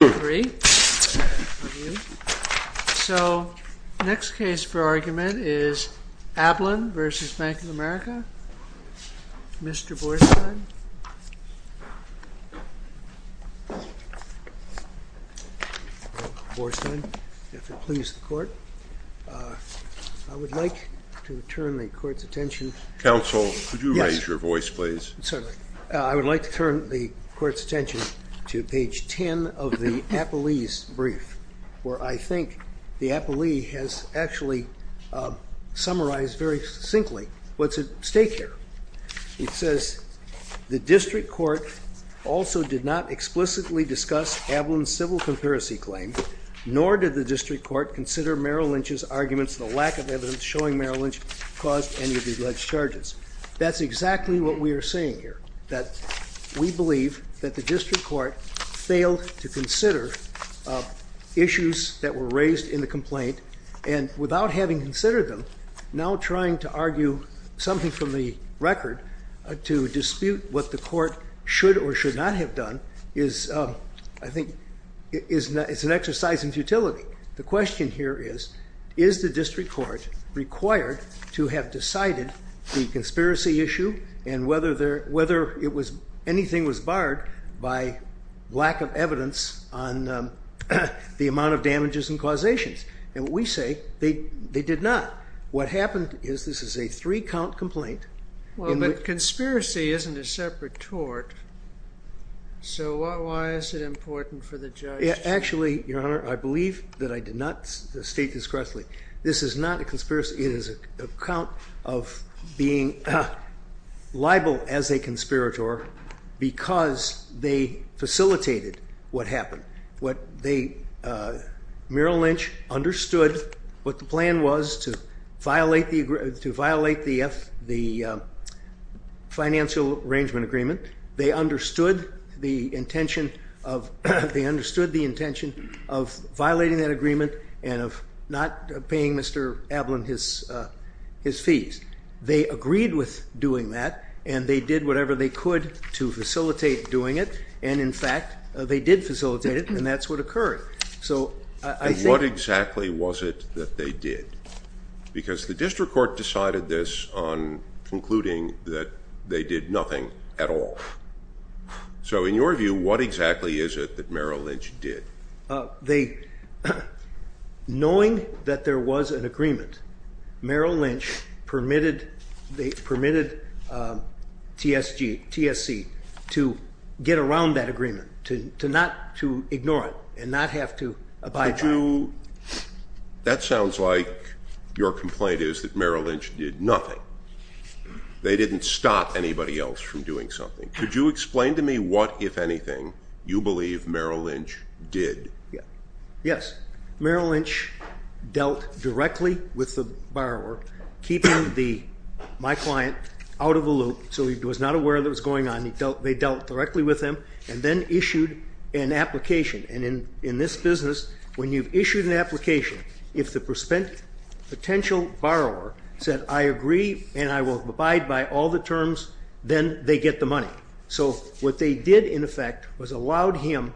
Mr. Borstein, if it pleases the Court, I would like to turn the Court's attention to page 10 of the Apley's brief, where I think the Apley has actually summarized very succinctly what's at stake here. It says, the District Court also did not explicitly discuss Ablan's civil comparison claim, nor did the District Court consider Merrill Lynch's arguments the lack of evidence showing Merrill Lynch caused any of the alleged charges. That's saying here that we believe that the District Court failed to consider issues that were raised in the complaint, and without having considered them, now trying to argue something from the record to dispute what the Court should or should not have done is, I think, is an exercise in futility. The question here is, is the District Court required to have decided the conspiracy issue and whether anything was barred by lack of evidence on the amount of damages and causations? And what we say, they did not. What happened is, this is a three-count complaint. Well, but conspiracy isn't a separate tort, so why is it important for the judge? Actually, Your Honor, I believe that I did not state this correctly. This is not a conspiracy. It is an account of being liable as a conspirator because they facilitated what happened. What they, Merrill Lynch understood what the plan was to violate the financial arrangement agreement. They understood the intention of, they understood the intention of not paying Mr. Ablin his fees. They agreed with doing that, and they did whatever they could to facilitate doing it, and in fact, they did facilitate it, and that's what occurred. So, I think... And what exactly was it that they did? Because the District Court decided this on concluding that they did nothing at all. So, in your view, what exactly is it that Merrill Lynch did? They, knowing that there was an agreement, Merrill Lynch permitted TSC to get around that agreement, to not to ignore it, and not have to abide by it. That sounds like your complaint is that Merrill Lynch did nothing. They didn't stop anybody else from doing something. Could you explain to me what, if anything, you believe Merrill Lynch did? Yes. Merrill Lynch dealt directly with the borrower, keeping my client out of the loop, so he was not aware that was going on. They dealt directly with him, and then issued an application, and in this business, when you've issued an application, if the potential borrower said, I agree and I will abide by all the terms, then they get the money. So, what they did, in effect, was allowed him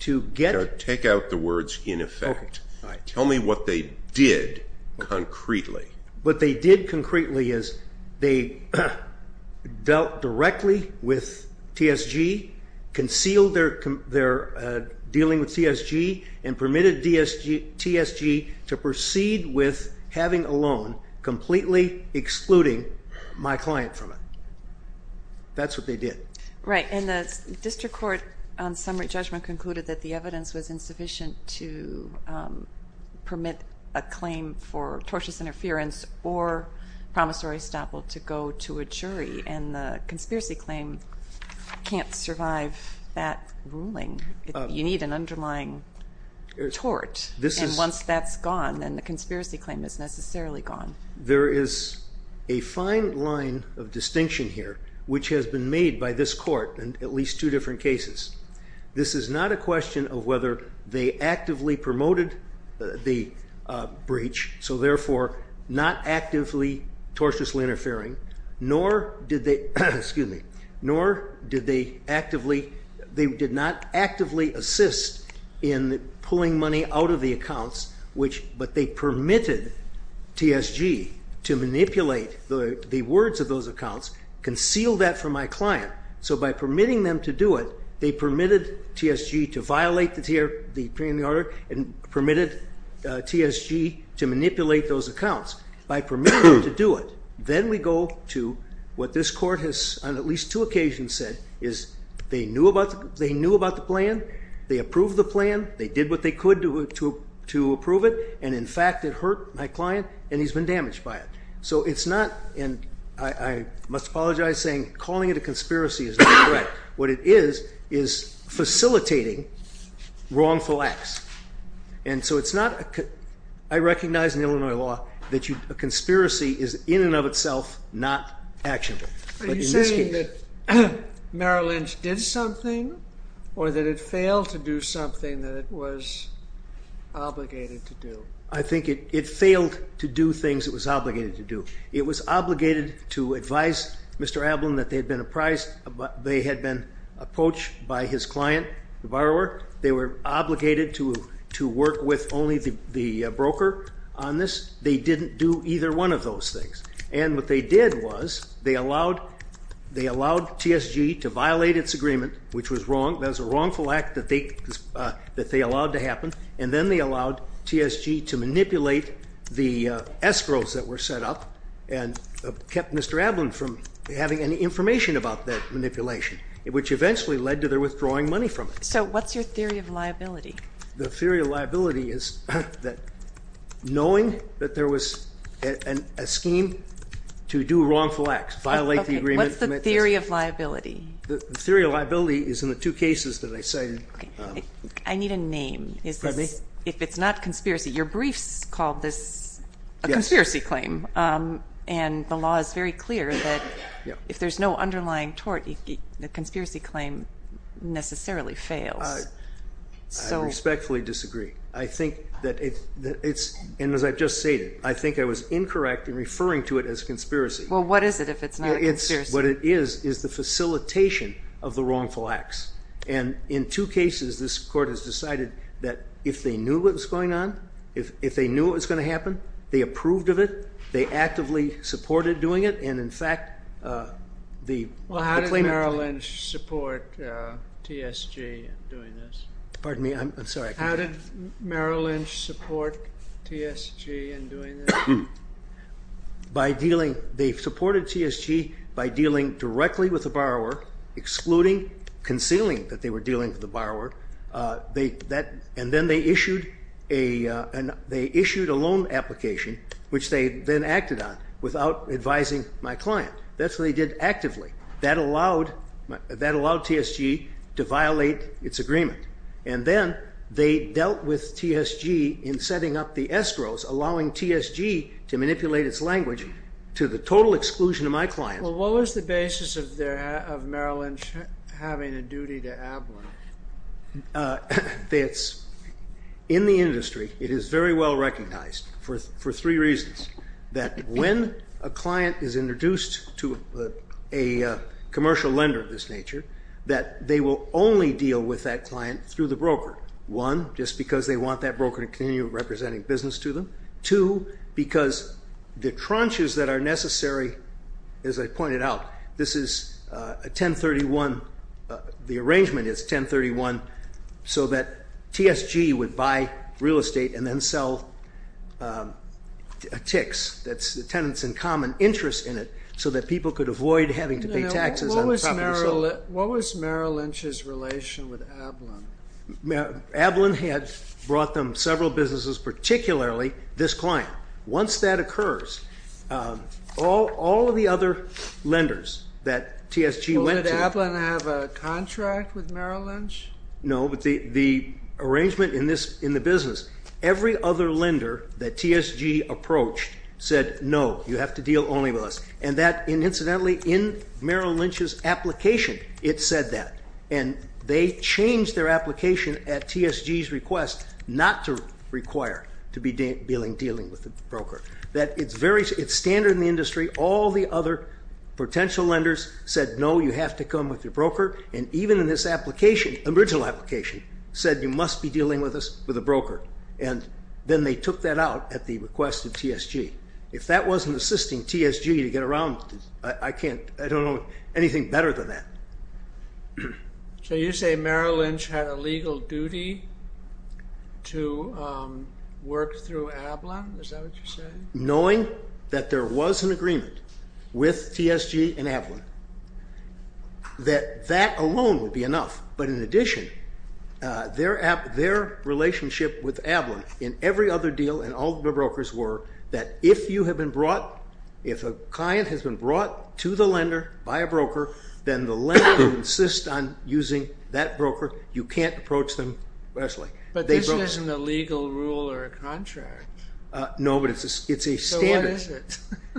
to get... Take out the words, in effect. Tell me what they did, concretely. What they did, concretely, is they dealt directly with TSG, concealed their dealing with TSG, and permitted TSG to proceed with having a loan, completely excluding my client from it. That's what they did. Right, and the District Court, on summary judgment, concluded that the evidence was insufficient to permit a claim for tortious interference or promissory stop will to go to a jury, and the conspiracy claim can't survive that ruling. You need an underlying tort, and once that's gone, then the conspiracy claim is necessarily gone. There is a fine line of distinction here, which has been made by this court in at least two different cases. This is not a question of whether they actively promoted the breach, so therefore, not actively tortiously interfering, nor did they, excuse me, nor did they actively, they did not actively assist in pulling money out of the accounts, which, but they permitted TSG to manipulate the words of those accounts, conceal that from my client. So, by permitting them to do it, they permitted TSG to violate the opinion of the order, and permitted TSG to manipulate those accounts. By permitting them to do it, then we go to what this court has, on at least two occasions said, is they knew about the plan, they approved the plan, they did what they could to approve it, and in fact, it hurt my client, and he's been damaged by it. So it's not, and I must apologize, saying calling it a conspiracy is not correct. What it is, is facilitating wrongful acts. And so it's not, I recognize in Illinois law, that a conspiracy is in and of itself not actionable. Are you saying that Merrill Lynch did something, or that it failed to do something that it was obligated to do? I think it failed to do things it was obligated to do. It was obligated to advise Mr. Ablin that they had been apprised, they had been approached by his client, the borrower. They were obligated to work with only the broker on this. They didn't do either one of those things. And what they did was, they allowed TSG to violate its agreement, which was wrong, that was a wrongful act that they allowed to happen. And then they allowed TSG to manipulate the escrows that were set up, and kept Mr. Ablin from having any information about that manipulation, which eventually led to their withdrawing money from it. So what's your theory of liability? The theory of liability is that knowing that there was a scheme to do wrongful acts, violate the agreement. What's the theory of liability? The theory of liability is in the two cases that I cited. I need a name. Is this, if it's not conspiracy, your briefs called this a conspiracy claim. And the law is very clear that if there's no underlying tort, the conspiracy claim necessarily fails. I respectfully disagree. I think that it's, and as I've just stated, I think I was incorrect in referring to it as conspiracy. Well, what is it if it's not a conspiracy? What it is, is the facilitation of the wrongful acts. And in two cases, this court has decided that if they knew what was going on, if they knew what was going to happen, they approved of it, they actively supported doing it. And in fact, the claimant- Well, how did Merrill Lynch support TSG in doing this? Pardon me, I'm sorry. How did Merrill Lynch support TSG in doing this? By dealing, they supported TSG by dealing directly with the borrower, excluding, concealing that they were dealing with the borrower. And then they issued a loan application, which they then acted on without advising my client. That's what they did actively. That allowed TSG to violate its agreement. And then they dealt with TSG in setting up the escrows, allowing TSG to manipulate its language to the total exclusion of my client. Well, what was the basis of Merrill Lynch having a duty to Abler? In the industry, it is very well recognized for three reasons. That when a client is introduced to a commercial lender of this nature, that they will only deal with that client through the broker. One, just because they want that broker to continue representing business to them. Two, because the tranches that are necessary, as I pointed out, this is a 1031. The arrangement is 1031 so that TSG would buy real estate and then sell ticks, that's the tenants in common interest in it, so that people could avoid having to pay taxes on property sold. What was Merrill Lynch's relation with Ablen? Ablen had brought them several businesses, particularly this client. Once that occurs, all of the other lenders that TSG went to- Did Ablen have a contract with Merrill Lynch? No, but the arrangement in the business, every other lender that TSG approached said, no, you have to deal only with us. And that, incidentally, in Merrill Lynch's application, it said that. And they changed their application at TSG's request not to require to be dealing with the broker. That it's standard in the industry, all the other potential lenders said, no, you have to come with your broker. And even in this application, original application, said you must be dealing with us, with a broker. And then they took that out at the request of TSG. If that wasn't assisting TSG to get around, I don't know anything better than that. So you say Merrill Lynch had a legal duty to work through Ablen? Is that what you're saying? Knowing that there was an agreement with TSG and Ablen, that that alone would be enough. But in addition, their relationship with Ablen in every other deal and all the brokers were, that if you have been brought, if a client has been brought to the lender by a broker, then the lender would insist on using that broker, you can't approach them. But this isn't a legal rule or a contract. No, but it's a standard.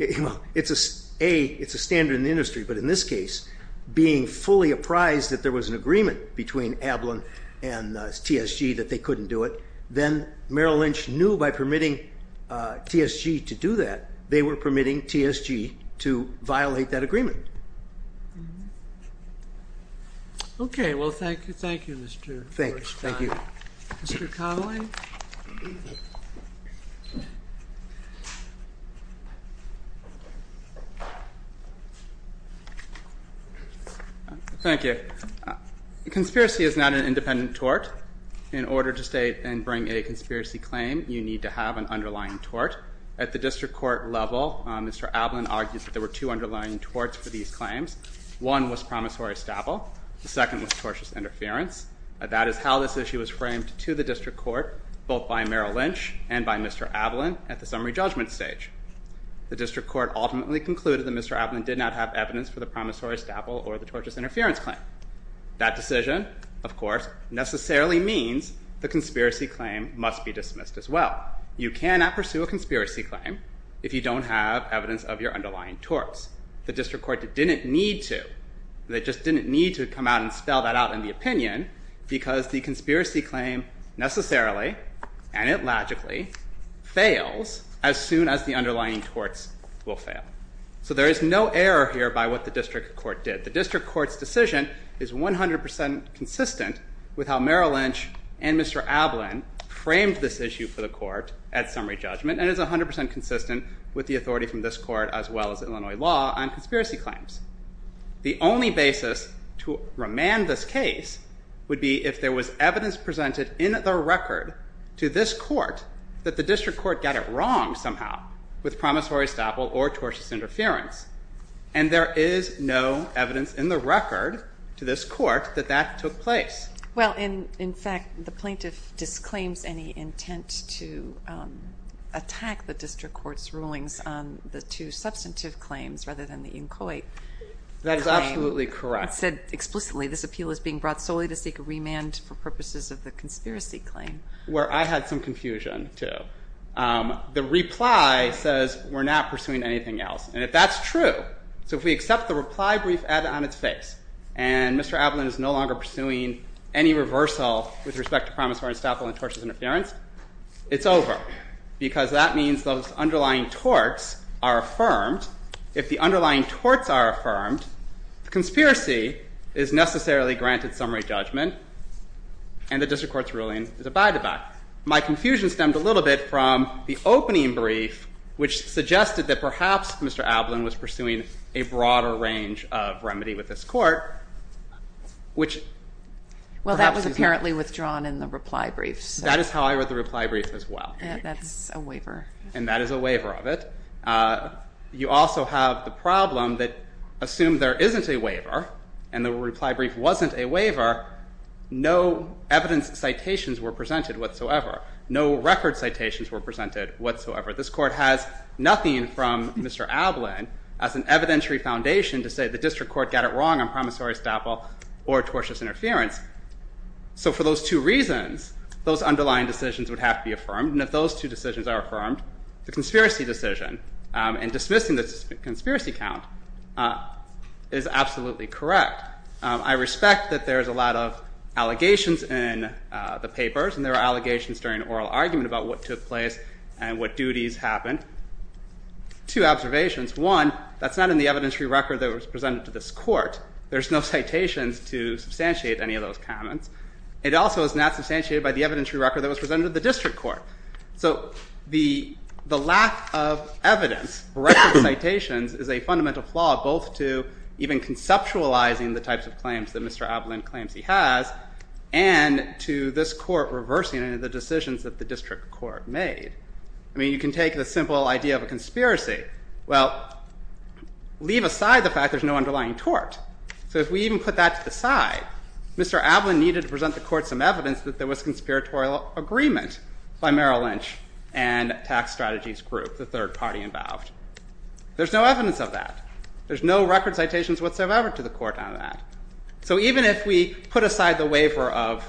It's a standard in the industry, but in this case, being fully apprised that there was an agreement between Ablen and TSG that they couldn't do it, then Merrill Lynch knew by permitting TSG to do that, they were permitting TSG to violate that agreement. Okay. Well, thank you. Thank you, Mr. Korsheim. Thank you. Mr. Connelly? Thank you. Conspiracy is not an independent tort. In order to state and bring a conspiracy claim, you need to have an underlying tort. At the district court level, Mr. Ablen argued that there were two underlying torts for these claims. One was promissory staple. The second was tortious interference. That is how this issue was framed to the district court, both by Merrill Lynch and by Mr. Ablen at the summary judgment stage. The district court ultimately concluded that Mr. Ablen did not have evidence for the promissory staple or the tortious interference claim. That decision, of course, necessarily means the conspiracy claim must be dismissed as well. You cannot pursue a conspiracy claim if you don't have evidence of your underlying torts. The district court didn't need to. They just didn't need to come out and spell that out in the opinion because the conspiracy claim necessarily, and it logically, fails as soon as the underlying torts will fail. So there is no error here by what the district court did. The district court's decision is 100% consistent with how Merrill Lynch and Mr. Ablen framed this issue for the court at summary judgment and is 100% consistent with the authority from this court as well as Illinois law on conspiracy claims. The only basis to remand this case would be if there was evidence presented in the record to this court that the district court got it wrong somehow with promissory staple or tortious interference. And there is no evidence in the record to this court that that took place. Well, in fact, the plaintiff disclaims any intent to attack the district court's rulings on the two substantive claims rather than the inchoate claim. That is absolutely correct. It said explicitly this appeal is being brought solely to seek a remand for purposes of the conspiracy claim. Where I had some confusion, too. The reply says we're not pursuing anything else. And if that's true, so if we accept the reply brief added on its face and Mr. Ablen is no longer pursuing any reversal with respect to promissory staple and tortious interference, it's over. Because that means those underlying torts are affirmed. If the underlying torts are affirmed, the conspiracy is necessarily granted summary judgment and the district court's ruling is abide by. My confusion stemmed a little bit from the opening brief which suggested that perhaps Mr. Ablen was pursuing a broader range of remedy with this court. Well, that was apparently withdrawn in the reply brief. That is how I wrote the reply brief as well. That's a waiver. And that is a waiver of it. You also have the problem that assume there isn't a waiver and the reply brief wasn't a waiver, no evidence citations were presented whatsoever. No record citations were presented whatsoever. This court has nothing from Mr. Ablen as an evidentiary foundation to say the district court got it wrong on promissory staple or tortious interference. So for those two reasons, those underlying decisions would have to be affirmed and if those two decisions are affirmed, the conspiracy decision and dismissing the conspiracy count is absolutely correct. I respect that there's a lot of allegations in the papers and there are allegations during oral argument about what took place and what duties happened. Two observations. One, that's not in the evidentiary record that was presented to this court. There's no citations to substantiate any of those comments. It also is not substantiated by the evidentiary record that was presented to the district court. So the lack of evidence for record citations is a fundamental flaw both to even conceptualizing the types of claims that Mr. Ablen claims he has and to this court reversing any of the decisions that the district court made. I mean, you can take the simple idea of a conspiracy. Well, leave aside the fact there's no underlying tort. So if we even put that to the side, Mr. Ablen needed to present the court some evidence that there was conspiratorial agreement by Merrill Lynch and Tax Strategies Group, the third party involved. There's no evidence of that. There's no record citations whatsoever to the court on that. So even if we put aside the waiver of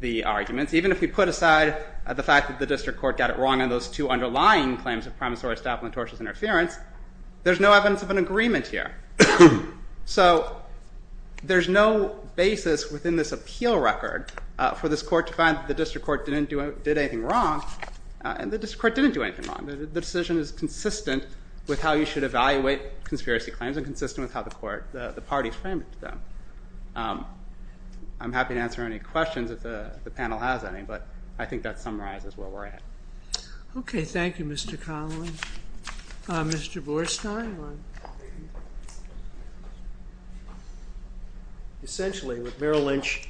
the arguments, even if we put aside the fact that the district court got it wrong on those two underlying claims of promissory staff and tortious interference, there's no evidence of an agreement here. So there's no basis within this appeal record for this court to find that the district court didn't do anything wrong and the district court didn't do anything wrong. The decision is consistent with how you should evaluate conspiracy claims and consistent with how the parties framed it to them. I'm happy to answer any questions if the panel has any, but I think that summarizes where we're at. Okay, thank you, Mr. Connelly. Mr. Borstein? Essentially, what Merrill Lynch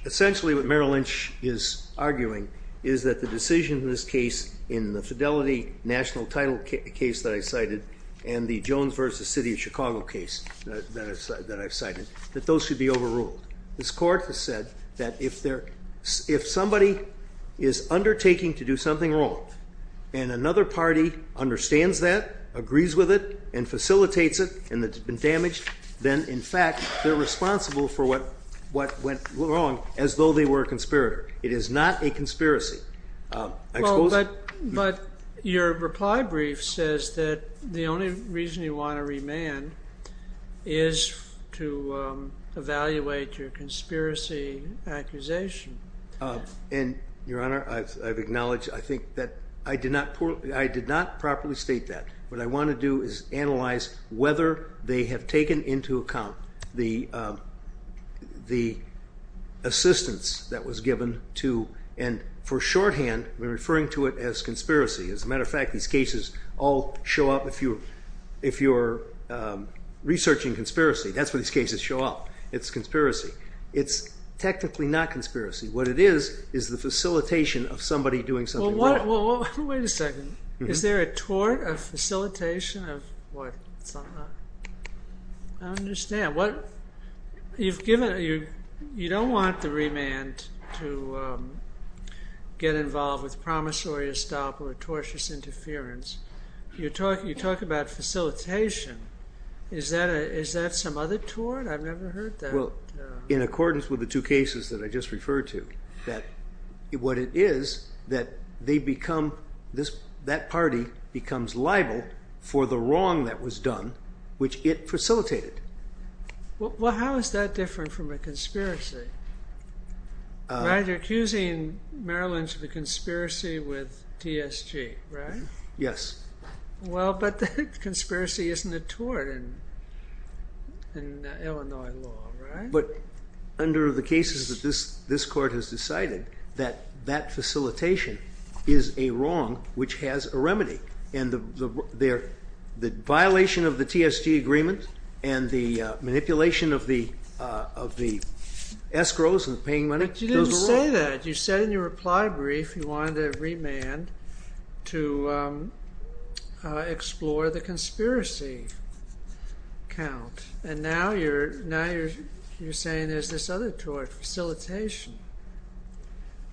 is arguing is that the decision in this case, in the fidelity national title case that I cited, and the Jones v. City of Chicago case that I cited, that those should be overruled. This court has said that if somebody is undertaking to do something wrong and another party understands that, agrees with it, and facilitates it and it's been damaged, then, in fact, they're responsible for what went wrong It is not a conspiracy. Well, but your reply brief says that the only reason you want to remand is to evaluate your conspiracy accusation. And, Your Honor, I've acknowledged, I think that I did not properly state that. What I want to do is analyze whether they have taken into account the assistance that was given and, for shorthand, referring to it as conspiracy. As a matter of fact, these cases all show up if you're researching conspiracy. That's where these cases show up. It's conspiracy. It's technically not conspiracy. What it is, is the facilitation of somebody doing something wrong. Wait a second. Is there a tort of facilitation? What? I don't understand. You don't want the remand to get involved with promissory estoppel or tortious interference. You talk about facilitation. Is that some other tort? I've never heard that. In accordance with the two cases that I just referred to. What it is, that they become that party becomes liable for the wrong that was done which it facilitated. How is that different from a conspiracy? You're accusing Maryland of a conspiracy with TSG, right? Yes. But the conspiracy isn't a tort in Illinois law, right? Under the cases that this court has decided that that facilitation is a wrong which has a remedy. The violation of the TSG agreement and the manipulation of the escrows and paying money But you didn't say that. You said in your reply brief you wanted a remand to explore the conspiracy count. And now you're saying there's this other tort facilitation.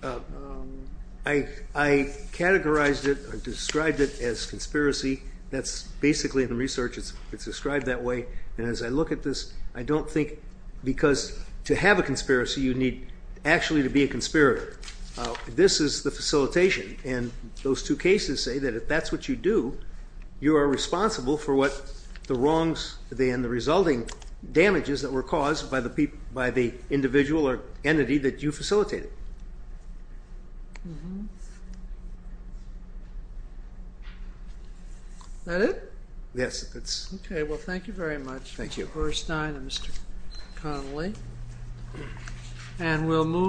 I categorized it described it as conspiracy that's basically in the research it's described that way and as I look at this I don't think because to have a conspiracy you need actually to be a conspirator. This is the facilitation and those two cases say that if that's what you do you are responsible for what the wrongs and the resulting damages that were caused by the individual or entity that you facilitated. Is that it? Yes, that's it. Okay, well thank you very much. Thank you.